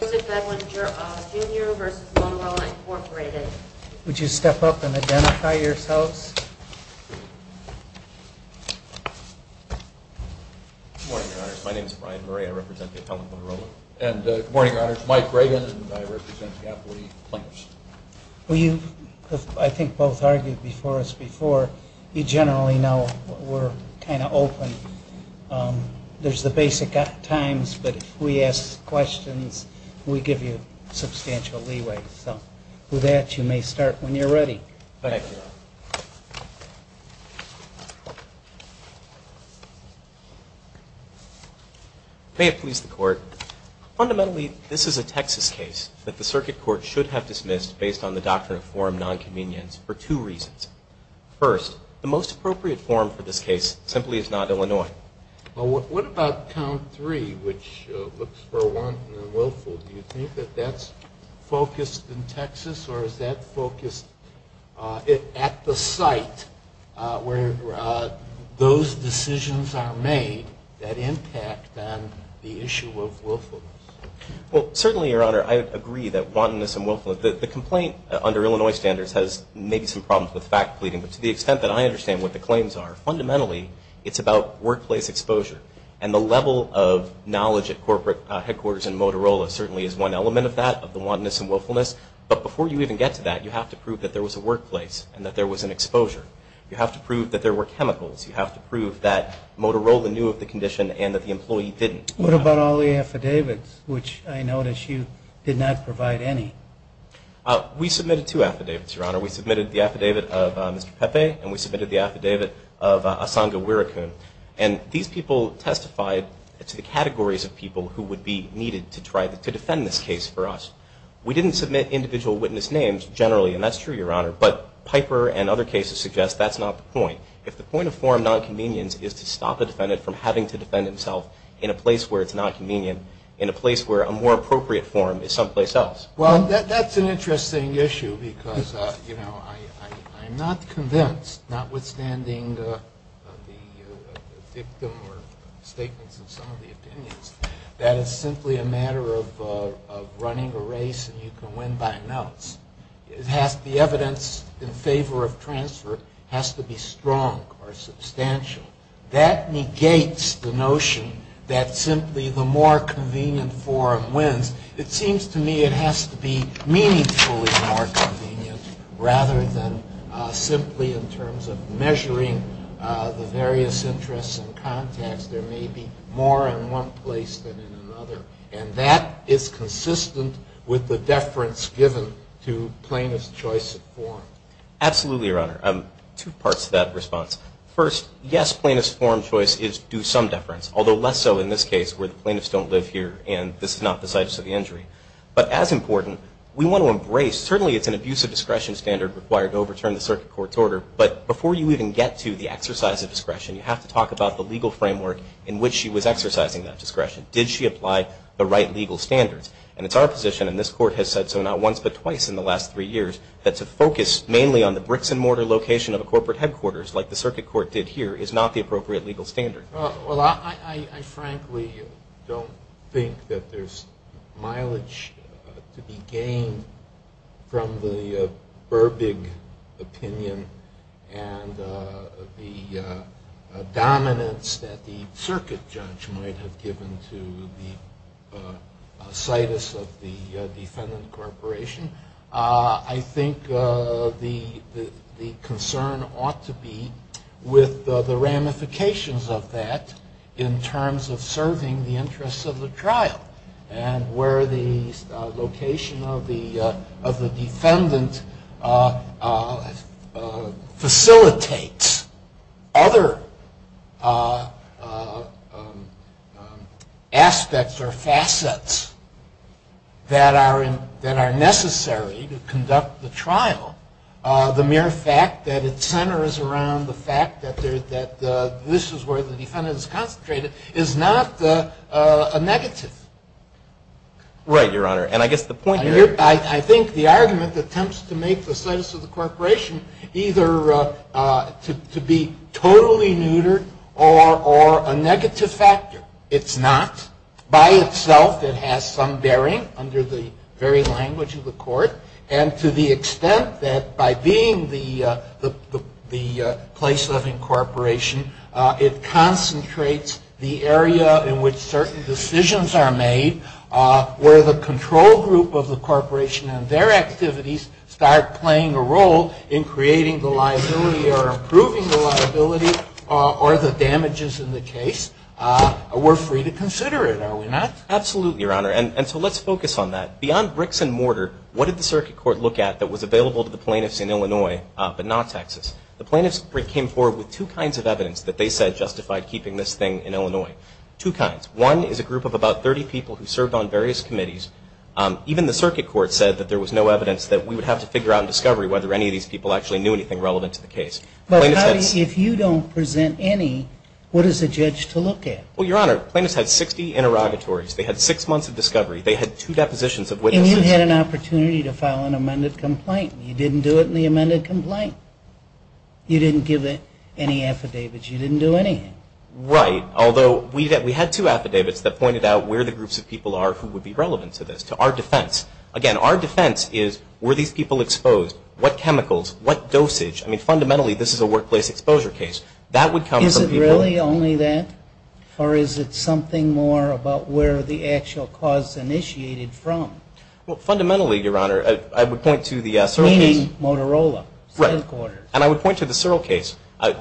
Good morning, Your Honors. My name is Brian Murray. I represent the Appellant Motorola. And good morning, Your Honors. Mike Reagan, and I represent the Appellate plaintiffs. Well, you, I think, both argued before us before. You generally know we're kind of open. There's the basic times, but if we ask questions, we give you substantial leeway. So with that, you may start when you're ready. May it please the Court. Fundamentally, this is a Texas case that the Circuit Court should have dismissed based on the doctrine of forum nonconvenience for two reasons. First, the Well, what about count three, which looks for wanton and willful? Do you think that that's focused in Texas, or is that focused at the site where those decisions are made that impact on the issue of willfulness? Well, certainly, Your Honor, I agree that wantonness and willfulness, the complaint under Illinois standards has maybe some problems with fact pleading. But to the extent that I understand what the claims are, fundamentally, it's about workplace exposure. And the level of knowledge at corporate headquarters in Motorola certainly is one element of that, of the wantonness and willfulness. But before you even get to that, you have to prove that there was a workplace and that there was an exposure. You have to prove that there were chemicals. You have to prove that Motorola knew of the condition and that the employee didn't. What about all the affidavits, which I notice you did not provide any? We submitted two affidavits, Your Honor. We submitted the affidavit of Mr. Pepe, and we submitted the affidavit of Asanga Wirakun. And these people testified to the categories of people who would be needed to try to defend this case for us. We didn't submit individual witness names generally, and that's true, Your Honor, but Piper and other cases suggest that's not the point. If the point of form nonconvenience is to stop a defendant from having to defend himself in a place where it's nonconvenient, in a place where a more appropriate form is someplace else. Well, that's an interesting issue because, you know, I'm not convinced, notwithstanding the dictum or statements of some of the opinions, that it's simply a matter of running a race and you can win by notes. The evidence in favor of transfer has to be strong or substantial. That negates the notion that simply the more convenient form wins. It seems to me it has to be meaningfully more convenient rather than simply in terms of measuring the various interests and contacts. There may be more in one place than in another, and that is consistent with the deference given to plaintiff's choice of form. Absolutely, Your Honor. Two parts to that response. First, yes, plaintiff's form choice is due some deference, although less so in this case where the plaintiffs don't live here and this is not the site of the injury. But as important, we want to embrace, certainly it's an abuse of discretion standard required to overturn the circuit court's order, but before you even get to the exercise of discretion, you have to talk about the legal framework in which she was exercising that discretion. Did she apply the right legal standards? And it's our position, and this court has said so not once but twice in the last three years, that to focus mainly on the bricks and mortar location of a corporate headquarters, like the circuit court did here, is not the appropriate legal standard. Well, I frankly don't think that there's mileage to be gained from the Burbig opinion and the dominance that the circuit judge might have given to the situs of the defendant corporation. I think the concern ought to be with the ramifications of that in terms of serving the interests of the trial and where the location of the defendant facilitates other aspects or facets that are necessary to conduct the trial. The mere fact that it centers around the location of the defendant corporation is not a negative. Right, Your Honor. And I guess the point here – I think the argument attempts to make the situs of the corporation either to be totally neutered or a negative factor. It's not. By itself, it has some bearing under the very language of the court. And to the extent that by being the place of incorporation, it concentrates the area in which certain decisions are made, where the control group of the corporation and their activities start playing a role in creating the liability or improving the liability or the damages in the case, we're free to consider it, are we not? Absolutely, Your Honor. And so let's focus on that. Beyond bricks and mortar, what did the circuit court look at that was necessary? Well, plaintiffs came forward with two kinds of evidence that they said justified keeping this thing in Illinois. Two kinds. One is a group of about 30 people who served on various committees. Even the circuit court said that there was no evidence that we would have to figure out in discovery whether any of these people actually knew anything relevant to the case. But if you don't present any, what is the judge to look at? Well, Your Honor, plaintiffs had 60 interrogatories. They had six months of discovery. They had two depositions of witnesses. And you had an opportunity to file an amended complaint. You didn't do it in the amended complaint. You didn't give it any affidavits. You didn't do anything. Right. Although we had two affidavits that pointed out where the groups of people are who would be relevant to this, to our defense. Again, our defense is were these people exposed? What chemicals? What dosage? I mean, fundamentally, this is a workplace exposure case. That would come from people... Is it really only that? Or is it something more about where the actual cause initiated from? Well, fundamentally, Your Honor, I would point to the circuit case... Meaning Motorola. Right. And I would point to the Searle case.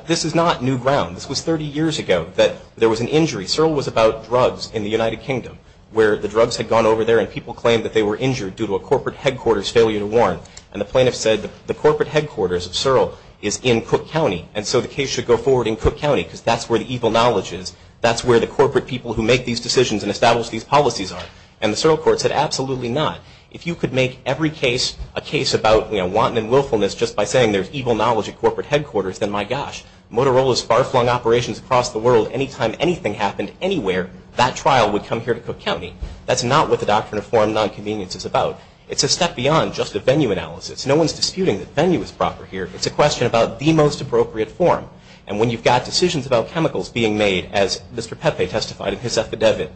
This is not new ground. This was 30 years ago that there was an injury. Searle was about drugs in the United Kingdom where the drugs had gone over there and people claimed that they were injured due to a corporate headquarters failure to warn. And the plaintiff said the corporate headquarters of Searle is in Cook County. And so the case should go forward in Cook County because that's where the evil knowledge is. That's where the corporate people who make these decisions and establish these policies are. And the Searle court said, absolutely not. If you could make every case a case about wanton and willfulness just by saying there's evil knowledge at corporate headquarters, then, my gosh, Motorola's far-flung operations across the world, anytime anything happened anywhere, that trial would come here to Cook County. That's not what the doctrine of foreign non-convenience is about. It's a step beyond just a venue analysis. No one's disputing that venue is proper here. It's a question about the most appropriate form. And when you've got decisions about chemicals being made, as Mr. Pepe testified in his affidavit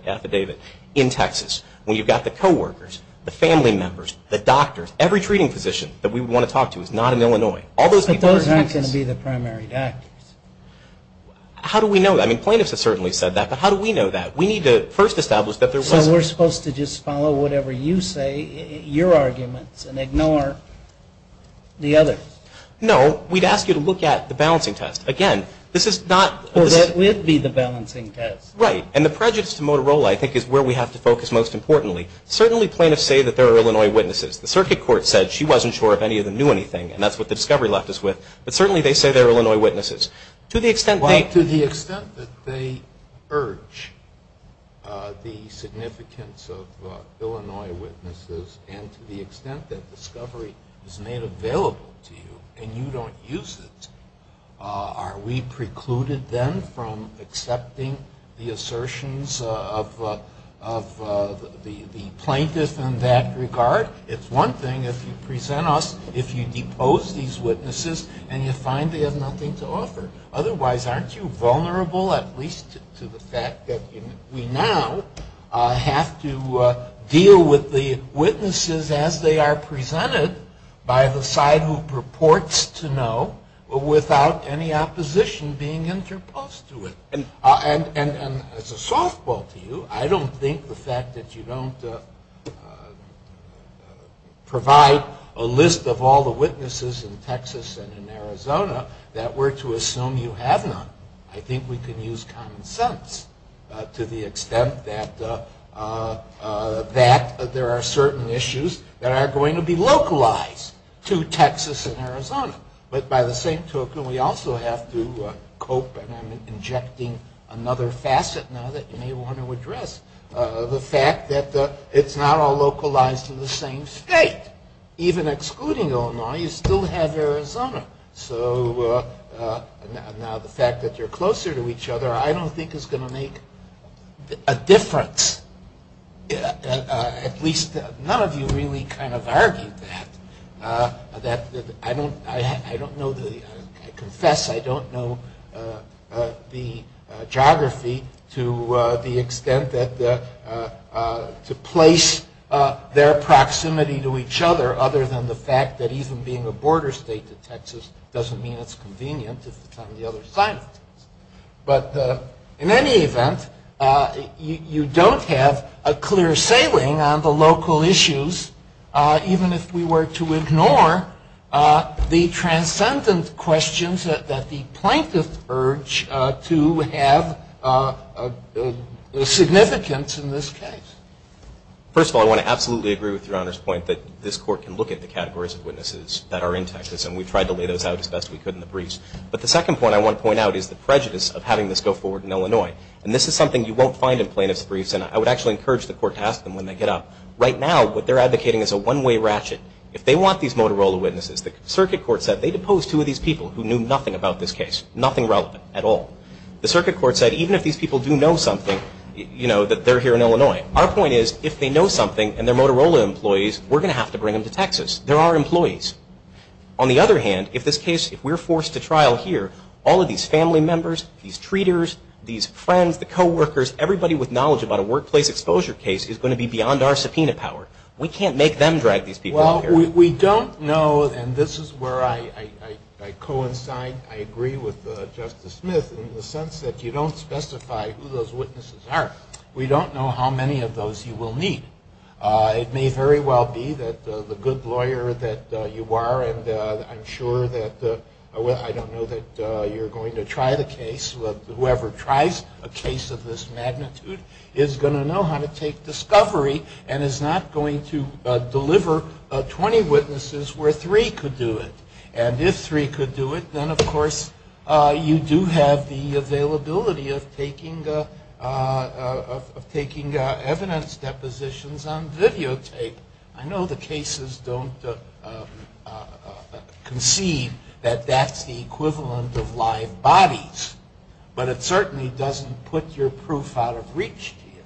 in Texas, when you've got the co-workers, the family members, the doctors, every treating physician that we would want to talk to is not in Illinois. But those aren't going to be the primary doctors. How do we know that? I mean, plaintiffs have certainly said that, but how do we know that? We need to first establish that there was... So we're supposed to just follow whatever you say, your arguments, and ignore the others? No. We'd ask you to look at the balancing test. Again, this is not... Well, that would be the balancing test. Right. And the prejudice to Motorola, I think, is where we have to focus most importantly. Certainly plaintiffs say that there are Illinois witnesses. The circuit court said she wasn't sure if any of them knew anything, and that's what the discovery left us with. But certainly they say there are Illinois witnesses. To the extent they... Well, to the extent that they urge the significance of Illinois witnesses, and to the extent that discovery is made available to you and you don't use it, are we precluded then from accepting the assertions of the plaintiff in that regard? It's one thing if you present us, if you depose these witnesses, and you find they have nothing to offer. Otherwise, aren't you vulnerable, at least to the fact that we now have to deal with the witnesses as they are presented by the side who purports to know, without any opposition being interposed to it? And as a softball to you, I don't think the fact that you don't provide a list of all the witnesses in Texas and in Arizona that we're to assume you have none. I think we can use common sense to the extent that there are certain issues that are going to be localized to Texas and Arizona. But by the same token, we also have to cope, and I'm injecting another facet now that you may want to address, the fact that it's not all localized to the same state. Even excluding Illinois, you still have Arizona. So now the fact that you're closer to each other, I don't think is going to make a difference. At least none of you really kind of argued that. I confess I don't know the geography to the extent that to place their proximity to each other, other than the fact that even being a border state to Texas doesn't mean it's convenient if it's on the other side of Texas. But in any event, you don't have a clear sailing on the local issues, even if we were to ignore the transcendent questions that the plaintiffs urge to have significance in this case. First of all, I want to absolutely agree with Your Honor's point that this court can look at the categories of witnesses that are in Texas, and we tried to lay those out as best we could in the briefs. But the second point I want to point out is the prejudice of having this go forward in Illinois. And this is something you won't find in plaintiff's briefs, and I would actually encourage the court to ask them when they get up. Right now, what they're advocating is a one-way ratchet. If they want these Motorola witnesses, the circuit court said they deposed two of these people who knew nothing about this case, nothing relevant at all. The circuit court said even if these people do know something, you know, that they're here in Illinois, our point is if they know something and they're Motorola employees, we're going to have to bring them to Texas. They're our employees. On the other hand, if this case, if we're forced to trial here, all of these family members, these treaters, these friends, the co-workers, everybody with knowledge about a workplace exposure case is going to be beyond our subpoena power. We can't make them drag these people out here. Well, we don't know, and this is where I coincide, I agree with Justice Smith in the sense that you don't specify who those witnesses are. We don't know how many of those you will need. It may very well be that the good lawyer that you are, and I'm sure that, I don't know that you're going to try the case, whoever tries a case of this magnitude is going to know how to take discovery and is not going to deliver 20 witnesses where three could do it. And if three could do it, then of course you do have the availability of taking evidence depositions on videotape. I know the cases don't concede that that's the equivalent of live bodies, but it certainly doesn't put your proof out of reach to you.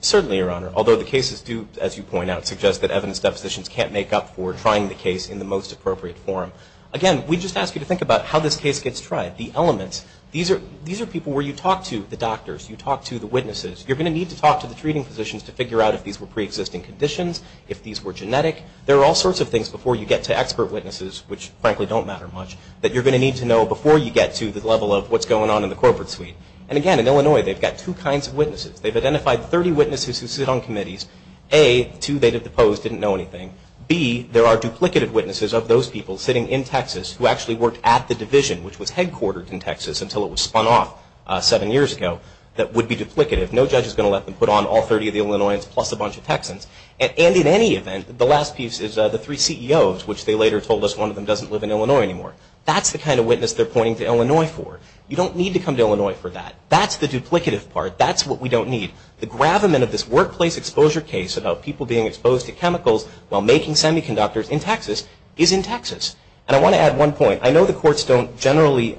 Certainly, Your Honor, although the cases do, as you point out, suggest that evidence depositions can't make up for trying the case in the most appropriate form. Again, we just ask you to think about how this case gets tried. The elements, these are people where you talk to the doctors, you talk to the witnesses. You're going to need to talk to the treating physicians to figure out if these were pre-existing conditions, if these were genetic. There are all sorts of things before you get to expert witnesses, which frankly don't matter much, that you're going to need to know before you get to the level of what's going on in the corporate suite. And again, in Illinois, they've got two kinds of witnesses. They've identified 30 witnesses who sit on committees. A, two they deposed, didn't know anything. B, there are duplicated witnesses of those people sitting in Texas who actually worked at the division, which was headquartered in Texas until it was spun off seven years ago that would be duplicative. No judge is going to let them put on all 30 of the Illinoisans plus a bunch of Texans. And in any event, the last piece is the three CEOs, which they later told us one of them doesn't live in Illinois anymore. That's the kind of witness they're pointing to Illinois for. You don't need to come to Illinois for that. That's the duplicative part. That's what we don't need. The gravamen of this workplace exposure case about people being exposed to chemicals while making semiconductors in Texas is in Texas. And I want to add one point. I know the courts don't generally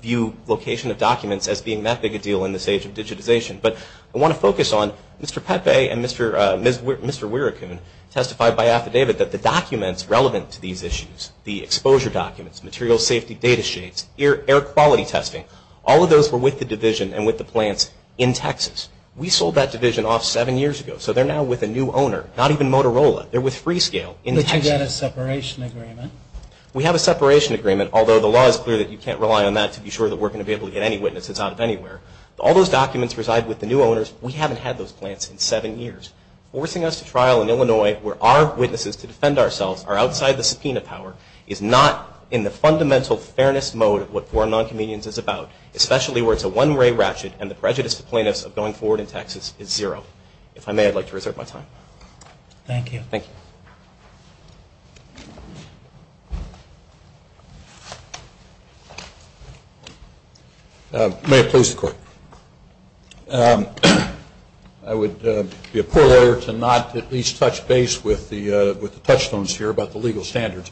view location of documents as being that big a deal in this age of digitization, but I want to focus on Mr. Pepe and Mr. Wiracoon testified by affidavit that the documents relevant to these issues, the exposure documents, material safety data sheets, air quality testing, all of those were with the division and with the plants in Texas. We sold that division off seven years ago. So they're now with a new owner, not even Motorola. They're with Freescale in Texas. But you've got a separation agreement. We have a separation agreement, although the law is clear that you can't rely on that to be sure that we're going to be able to get any witnesses out of anywhere. All those documents reside with the new owners. We haven't had those plants in seven years. Forcing us to trial in Illinois where our witnesses to defend ourselves are outside the subpoena power is not in the fundamental fairness mode of what Foreign Non-Convenience is about, especially where it's a one-way ratchet and the prejudice to plaintiffs of going forward in Texas is zero. If I may, I'd like to reserve my time. Thank you. Thank you. May it please the Court. I would be a poor lawyer to not at least touch base with the touchstones here about the legal standards.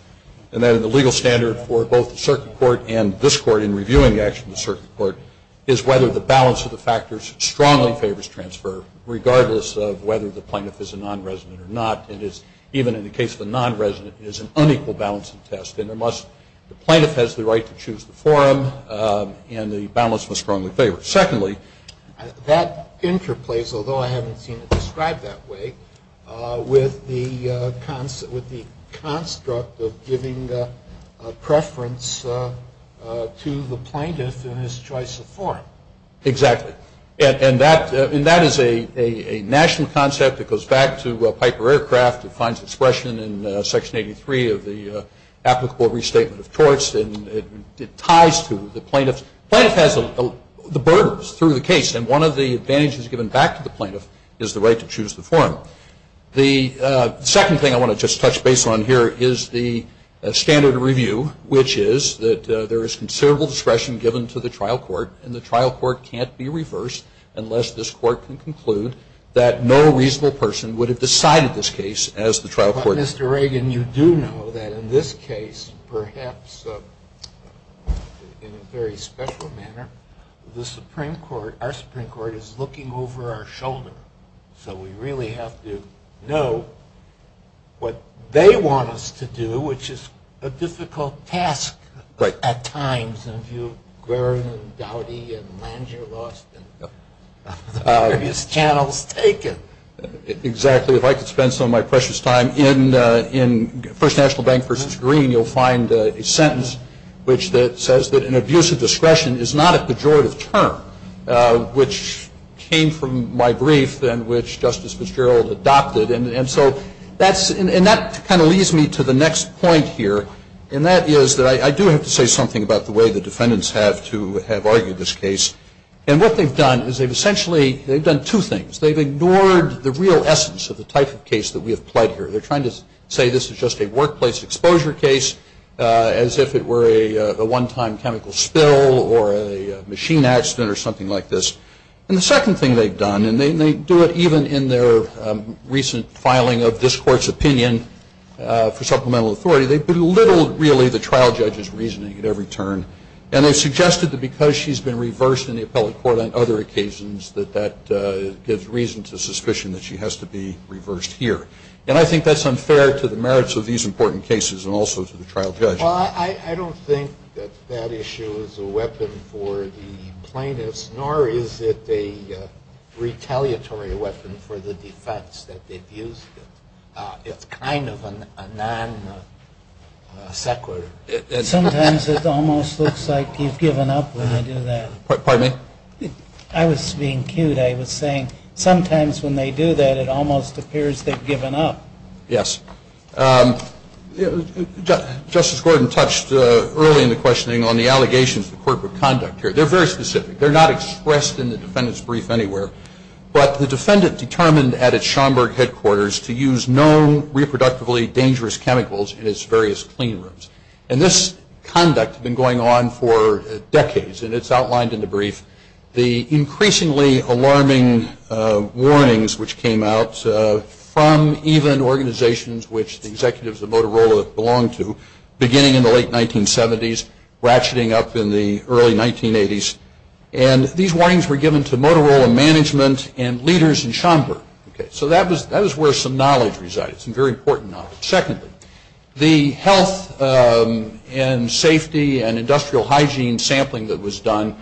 And then the legal standard for both the circuit court and this court in reviewing the action of the circuit court is whether the balance of the factors strongly favors transfer, regardless of whether the plaintiff is a non-resident or not. Even in the case of a non-resident, it is an unequal balance of the test. And the plaintiff has the right to choose the forum. And the balance must strongly favor. Secondly, that interplays, although I haven't seen it described that way, with the construct of giving preference to the plaintiff in his choice of forum. Exactly. And that is a national concept that goes back to Piper Aircraft. It finds expression in Section 83 of the applicable restatement of courts. And it ties to the plaintiff's. Plaintiff has the borders through the case. And one of the advantages given back to the plaintiff is the right to choose the forum. The second thing I want to just touch base on here is the standard review, which is that there is considerable discretion given to the trial court. And the trial court can't be reversed unless this court can conclude that no reasonable person would have decided this case as the trial court. But Mr. Reagan, you do know that in this case, perhaps in a very special manner, the Supreme Court, our Supreme Court, is looking over our shoulder. So we really have to know what they want us to do, which is a difficult task at times. And if you've grown dowdy and land you're lost in the various channels taken. Exactly. If I could spend some of my precious time in First National Bank versus Green, you'll find a sentence which says that an abuse of discretion is not a pejorative term, which came from my brief and which Justice Fitzgerald adopted. And so that kind of leads me to the next point here, and that is that I do have to say something about the way the defendants have to have argued this case. And what they've done is they've essentially, they've done two things. They've ignored the real essence of the type of case that we have played here. They're trying to say this is just a workplace exposure case, as if it were a one-time chemical spill or a machine accident or something like this. And the second thing they've done, and they do it even in their recent filing of this court's opinion for supplemental authority, they've belittled really the trial judge's reasoning at every turn. And they've suggested that because she's been reversed in the appellate court on other occasions that that gives reason to suspicion that she has to be reversed here. And I think that's unfair to the merits of these important cases and also to the trial judge. Well, I don't think that that issue is a weapon for the plaintiffs, nor is it a retaliatory weapon for the defense that they've used it. It's kind of a non-sequitur. Sometimes it almost looks like you've given up when they do that. Pardon me? I was being cute. I was saying sometimes when they do that, it almost appears they've given up. Yes. Justice Gordon touched early in the questioning on the allegations to corporate conduct here. They're very specific. They're not expressed in the defendant's brief anywhere. But the defendant determined at its Schomburg headquarters to use known reproductively dangerous chemicals in its various clean rooms. And this conduct had been going on for decades. And it's outlined in the brief. The increasingly alarming warnings which came out from even organizations which the executives of Motorola belonged to beginning in the late 1970s, ratcheting up in the early 1980s. And these warnings were given to Motorola management and leaders in Schomburg. So that was where some knowledge resided, some very important knowledge. Secondly, the health and safety and industrial hygiene sampling that was done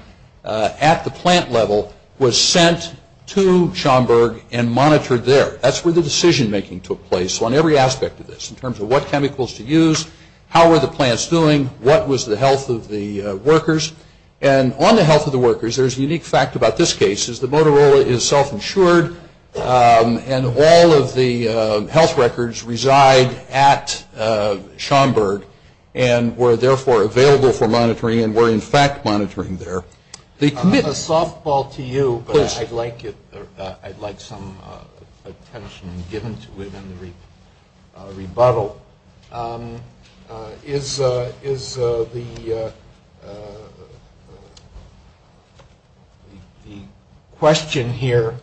at the plant level was sent to Schomburg and monitored there. That's where the decision making took place on every aspect of this in terms of what chemicals to use, how were the plants doing, what was the health of the workers. And on the health of the workers, there's a unique fact about this case is that Motorola is self-insured and all of the health records reside at Schomburg. And were therefore available for monitoring and were in fact monitoring there. The commitment. A softball to you, but I'd like some attention given to it in the rebuttal. So is the question here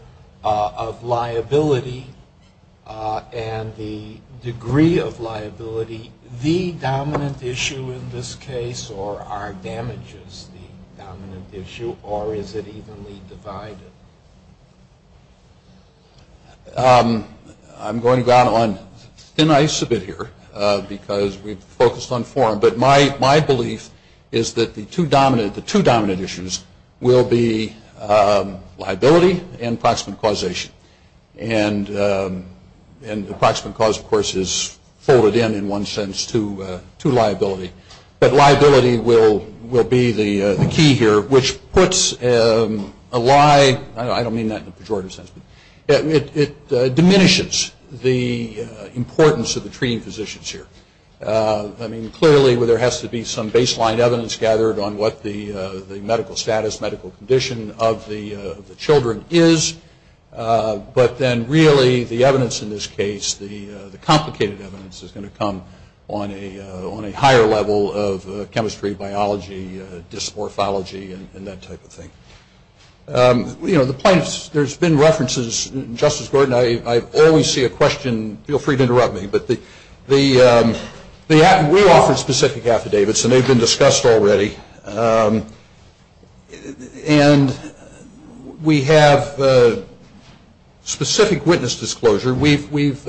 of liability and the degree of liability the dominant issue in this case or are damages the dominant issue or is it evenly divided? I'm going to go out on thin ice a bit here because we've focused on forum. But my belief is that the two dominant issues will be liability and proximate causation. And the proximate cause, of course, is folded in in one sense to liability. But liability will be the key here, which puts a lie, I don't mean that in a pejorative sense, it diminishes the importance of the treating physicians here. I mean, clearly there has to be some baseline evidence gathered on what the medical status, medical condition of the children is. But then really the evidence in this case, the complicated evidence is going to come on a higher level of chemistry, biology, dysmorphology, and that type of thing. You know, the point is there's been references, Justice Gordon, I always see a question, feel free to interrupt me, but we offer specific affidavits and they've been discussed already. And we have specific witness disclosure. We've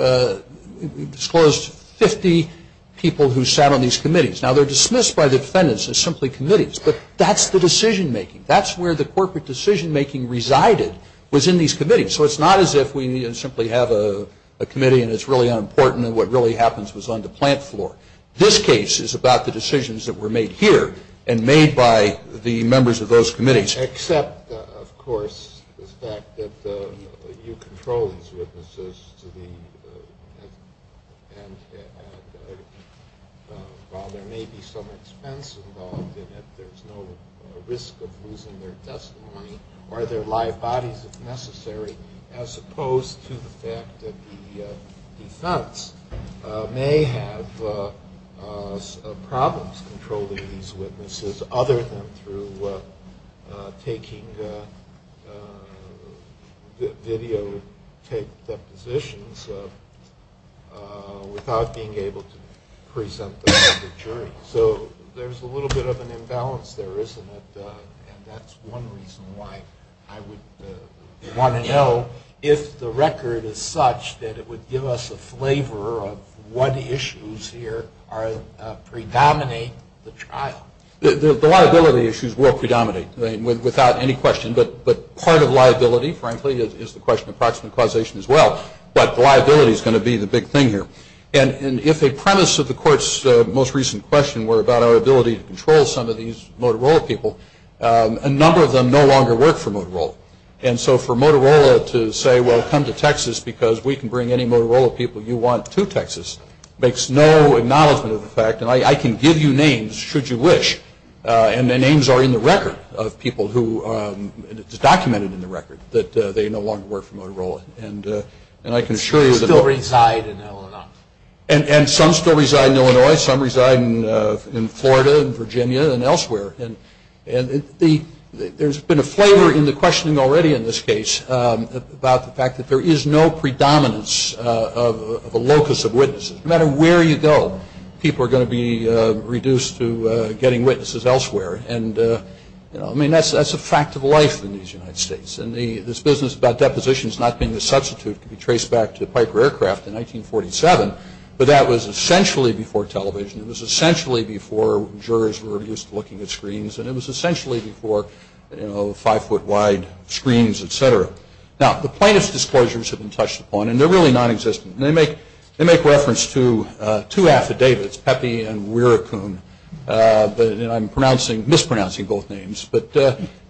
disclosed 50 people who sat on these committees. Now they're dismissed by the defendants as simply committees, but that's the decision making. That's where the corporate decision making resided was in these committees. So it's not as if we simply have a committee and it's really unimportant and what really happens was on the plant floor. This case is about the decisions that were made here and made by the members of those committees. Except, of course, the fact that you control these witnesses to the end and while there may be some expense involved in it, there's no risk of losing their testimony or their live bodies if necessary, as opposed to the fact that the defense may have problems controlling these witnesses other than through taking videotaped depositions without being able to present them to the jury. So there's a little bit of an imbalance there, isn't it, and that's one reason why I would want to know if the record is such that it would give us a flavor of what issues here predominate the trial. The liability issues will predominate without any question, but part of liability, frankly, is the question of proximate causation as well, but liability is going to be the big thing here. And if a premise of the Court's most recent question were about our ability to control some of these Motorola people, a number of them no longer work for Motorola. And so for Motorola to say, well, come to Texas because we can bring any Motorola people you want to Texas, makes no acknowledgment of the fact, and I can give you names should you wish, and the names are in the record of people who, and it's documented in the record, that they no longer work for Motorola. And I can assure you that... Some still reside in Illinois. And some still reside in Illinois. Some reside in Florida and Virginia and elsewhere. And there's been a flavor in the questioning already in this case about the fact that there is no predominance of a locus of witnesses. No matter where you go, people are going to be reduced to getting witnesses elsewhere. And, you know, I mean, that's a fact of life in these United States. And this business about depositions not being a substitute can be traced back to the Piper aircraft in 1947, but that was essentially before television. It was essentially before jurors were used to looking at screens, and it was essentially before, you know, five-foot-wide screens, et cetera. Now, the plaintiff's disclosures have been touched upon, and they're really nonexistent. They make reference to two affidavits, Pepe and Wiracoon, and I'm mispronouncing both names. But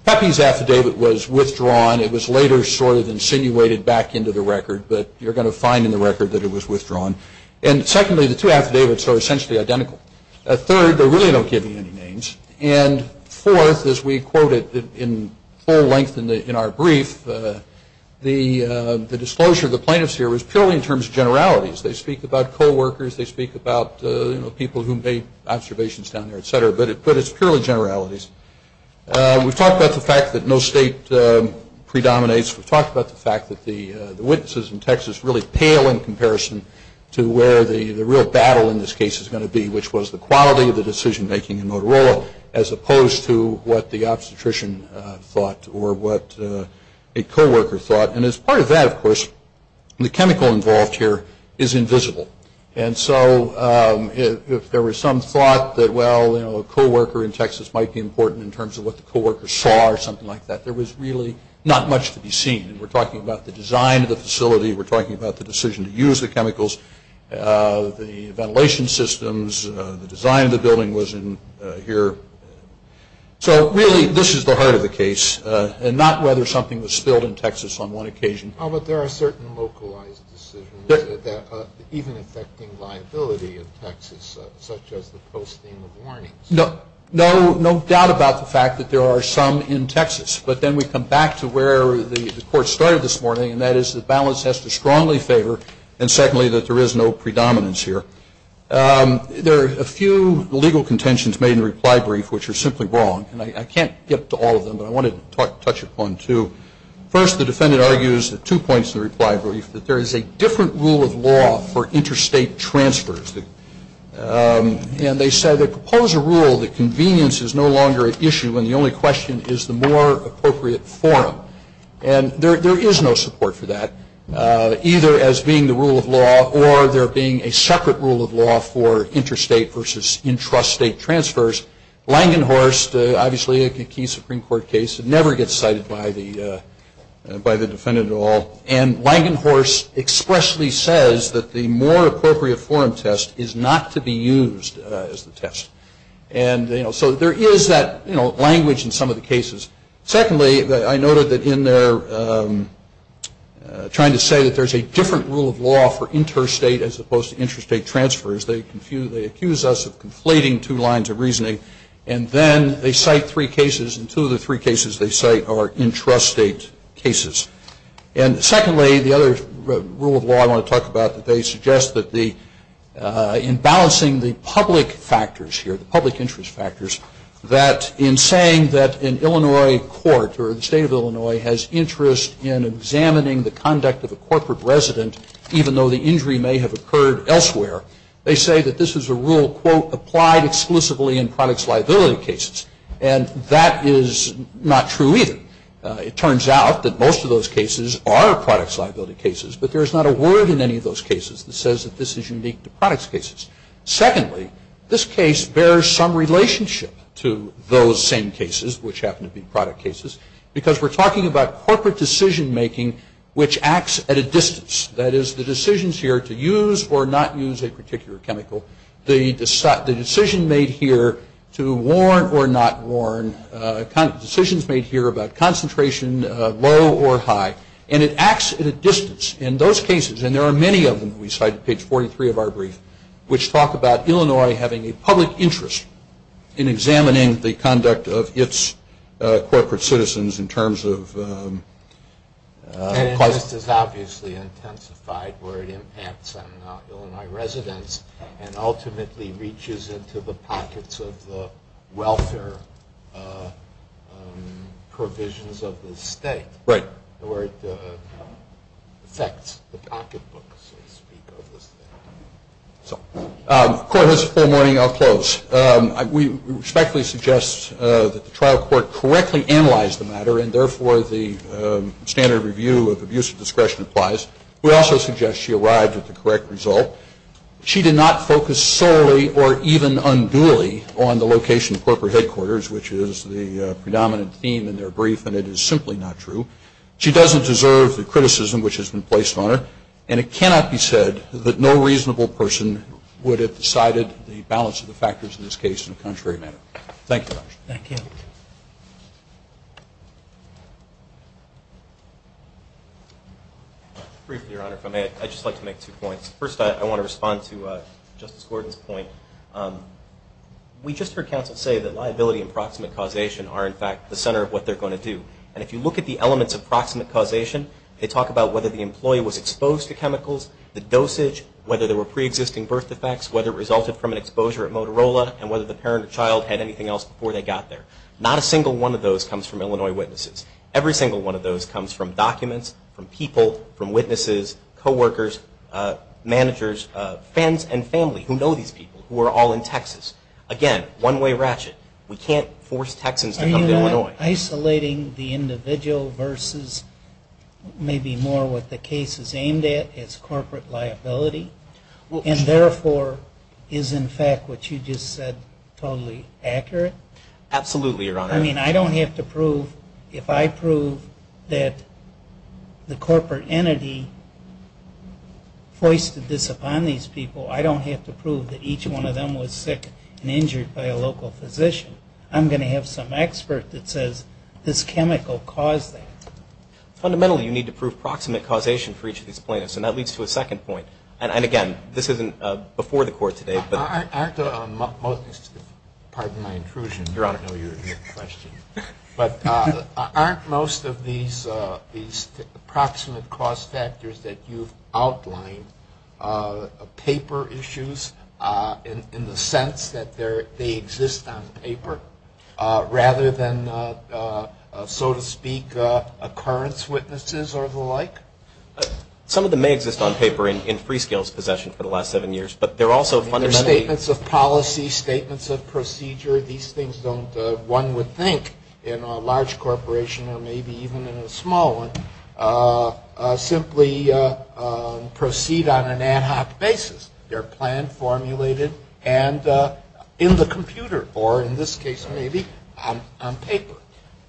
Pepe's affidavit was withdrawn. It was later sort of insinuated back into the record, but you're going to find in the record that it was withdrawn. And, secondly, the two affidavits are essentially identical. Third, they really don't give you any names. And, fourth, as we quoted in full length in our brief, the disclosure of the plaintiffs here was purely in terms of generalities. They speak about coworkers. They speak about, you know, people who made observations down there, et cetera. But it's purely generalities. We've talked about the fact that no state predominates. We've talked about the fact that the witnesses in Texas really pale in comparison to where the real battle in this case is going to be, which was the quality of the decision-making in Motorola as opposed to what the obstetrician thought or what a coworker thought. And as part of that, of course, the chemical involved here is invisible. And so if there was some thought that, well, you know, a coworker in Texas might be important in terms of what the coworkers saw or something like that, there was really not much to be seen. We're talking about the design of the facility. We're talking about the decision to use the chemicals, the ventilation systems, the design of the building was in here. So, really, this is the heart of the case and not whether something was spilled in Texas on one occasion. But there are certain localized decisions that are even affecting liability in Texas, such as the posting of warnings. No doubt about the fact that there are some in Texas. But then we come back to where the court started this morning, and that is that balance has to strongly favor and, secondly, that there is no predominance here. There are a few legal contentions made in the reply brief which are simply wrong. And I can't get to all of them, but I wanted to touch upon two. First, the defendant argues at two points in the reply brief that there is a different rule of law for interstate transfers. And they said, they propose a rule that convenience is no longer an issue when the only question is the more appropriate forum. And there is no support for that, either as being the rule of law or there being a separate rule of law for interstate versus intrastate transfers. Langenhorst, obviously a key Supreme Court case, never gets cited by the defendant at all. And Langenhorst expressly says that the more appropriate forum test is not to be used as the test. And, you know, so there is that, you know, language in some of the cases. Secondly, I noted that in their trying to say that there's a different rule of law for interstate as opposed to intrastate transfers, they accuse us of conflating two lines of reasoning. And then they cite three cases, and two of the three cases they cite are intrastate cases. And secondly, the other rule of law I want to talk about, they suggest that in balancing the public factors here, the public interest factors, that in saying that an Illinois court or the state of Illinois has interest in examining the conduct of a corporate resident, even though the injury may have occurred elsewhere, they say that this is a rule, quote, applied exclusively in products liability cases. And that is not true, either. It turns out that most of those cases are products liability cases, but there is not a word in any of those cases that says that this is unique to products cases. Secondly, this case bears some relationship to those same cases, which happen to be product cases, because we're talking about corporate decision making, which acts at a distance. That is, the decisions here to use or not use a particular chemical, the decision made here to warn or not warn, decisions made here about concentration, low or high, and it acts at a distance. In those cases, and there are many of them, we cite page 43 of our brief, which talk about Illinois having a public interest in examining the conduct of its corporate citizens in terms of... The interest is obviously intensified where it impacts on Illinois residents and ultimately reaches into the pockets of the welfare provisions of the state. Right. Where it affects the pocketbooks, so to speak, of the state. Court has a full morning. I'll close. We respectfully suggest that the trial court correctly analyze the matter and therefore the standard review of abuse of discretion applies. We also suggest she arrived at the correct result. She did not focus solely or even unduly on the location of corporate headquarters, which is the predominant theme in their brief, and it is simply not true. She doesn't deserve the criticism which has been placed on her, and it cannot be said that no reasonable person would have decided the balance of the factors in this case in a contrary manner. Thank you, Your Honor. Thank you. Briefly, Your Honor, if I may, I'd just like to make two points. First, I want to respond to Justice Gordon's point. We just heard counsel say that liability and proximate causation are, in fact, the center of what they're going to do. And if you look at the elements of proximate causation, they talk about whether the employee was exposed to chemicals, the dosage, whether there were preexisting birth defects, whether it resulted from an exposure at Motorola, and whether the parent or child had anything else before they got there. Not a single one of those comes from Illinois witnesses. Every single one of those comes from documents, from people, from witnesses, coworkers, managers, friends and family who know these people who are all in Texas. Again, one-way ratchet. We can't force Texans to come to Illinois. Are you not isolating the individual versus maybe more what the case is aimed at, as corporate liability, and therefore is, in fact, what you just said totally accurate? Absolutely, Your Honor. I mean, I don't have to prove, if I prove that the corporate entity foisted this upon these people, I don't have to prove that each one of them was sick and injured by a local physician. I'm going to have some expert that says this chemical caused that. Fundamentally, you need to prove proximate causation for each of these plaintiffs, and that leads to a second point. And, again, this isn't before the Court today. Aren't most of these proximate cause factors that you've outlined paper issues, in the sense that they exist on paper rather than, so to speak, occurrence witnesses or the like? Some of them may exist on paper in free-scales possession for the last seven years, but they're also fundamentally- They're statements of policy, statements of procedure. These things don't, one would think, in a large corporation or maybe even in a small one, simply proceed on an ad hoc basis. They're planned, formulated, and in the computer, or in this case, maybe, on paper.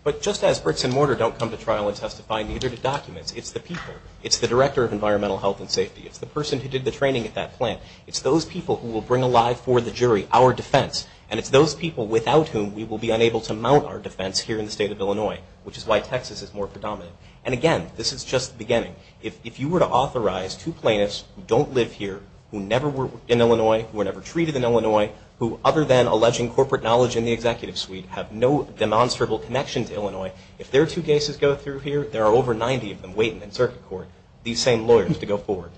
But just as bricks and mortar don't come to trial and testify, neither do documents. It's the people. It's the director of environmental health and safety. It's the person who did the training at that plant. It's those people who will bring alive for the jury our defense, and it's those people without whom we will be unable to mount our defense here in the state of Illinois, which is why Texas is more predominant. And, again, this is just the beginning. If you were to authorize two plaintiffs who don't live here, who never worked in Illinois, who were never treated in Illinois, who other than alleging corporate knowledge in the executive suite have no demonstrable connection to Illinois, if their two cases go through here, there are over 90 of them waiting in circuit court, these same lawyers, to go forward.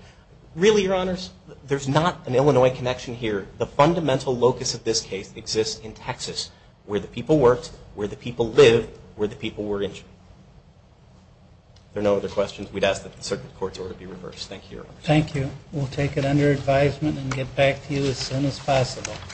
Really, Your Honors, there's not an Illinois connection here. The fundamental locus of this case exists in Texas, where the people worked, where the people lived, where the people were injured. There are no other questions. We'd ask that the circuit court's order be reversed. Thank you, Your Honors. Thank you. We'll take it under advisement and get back to you as soon as possible.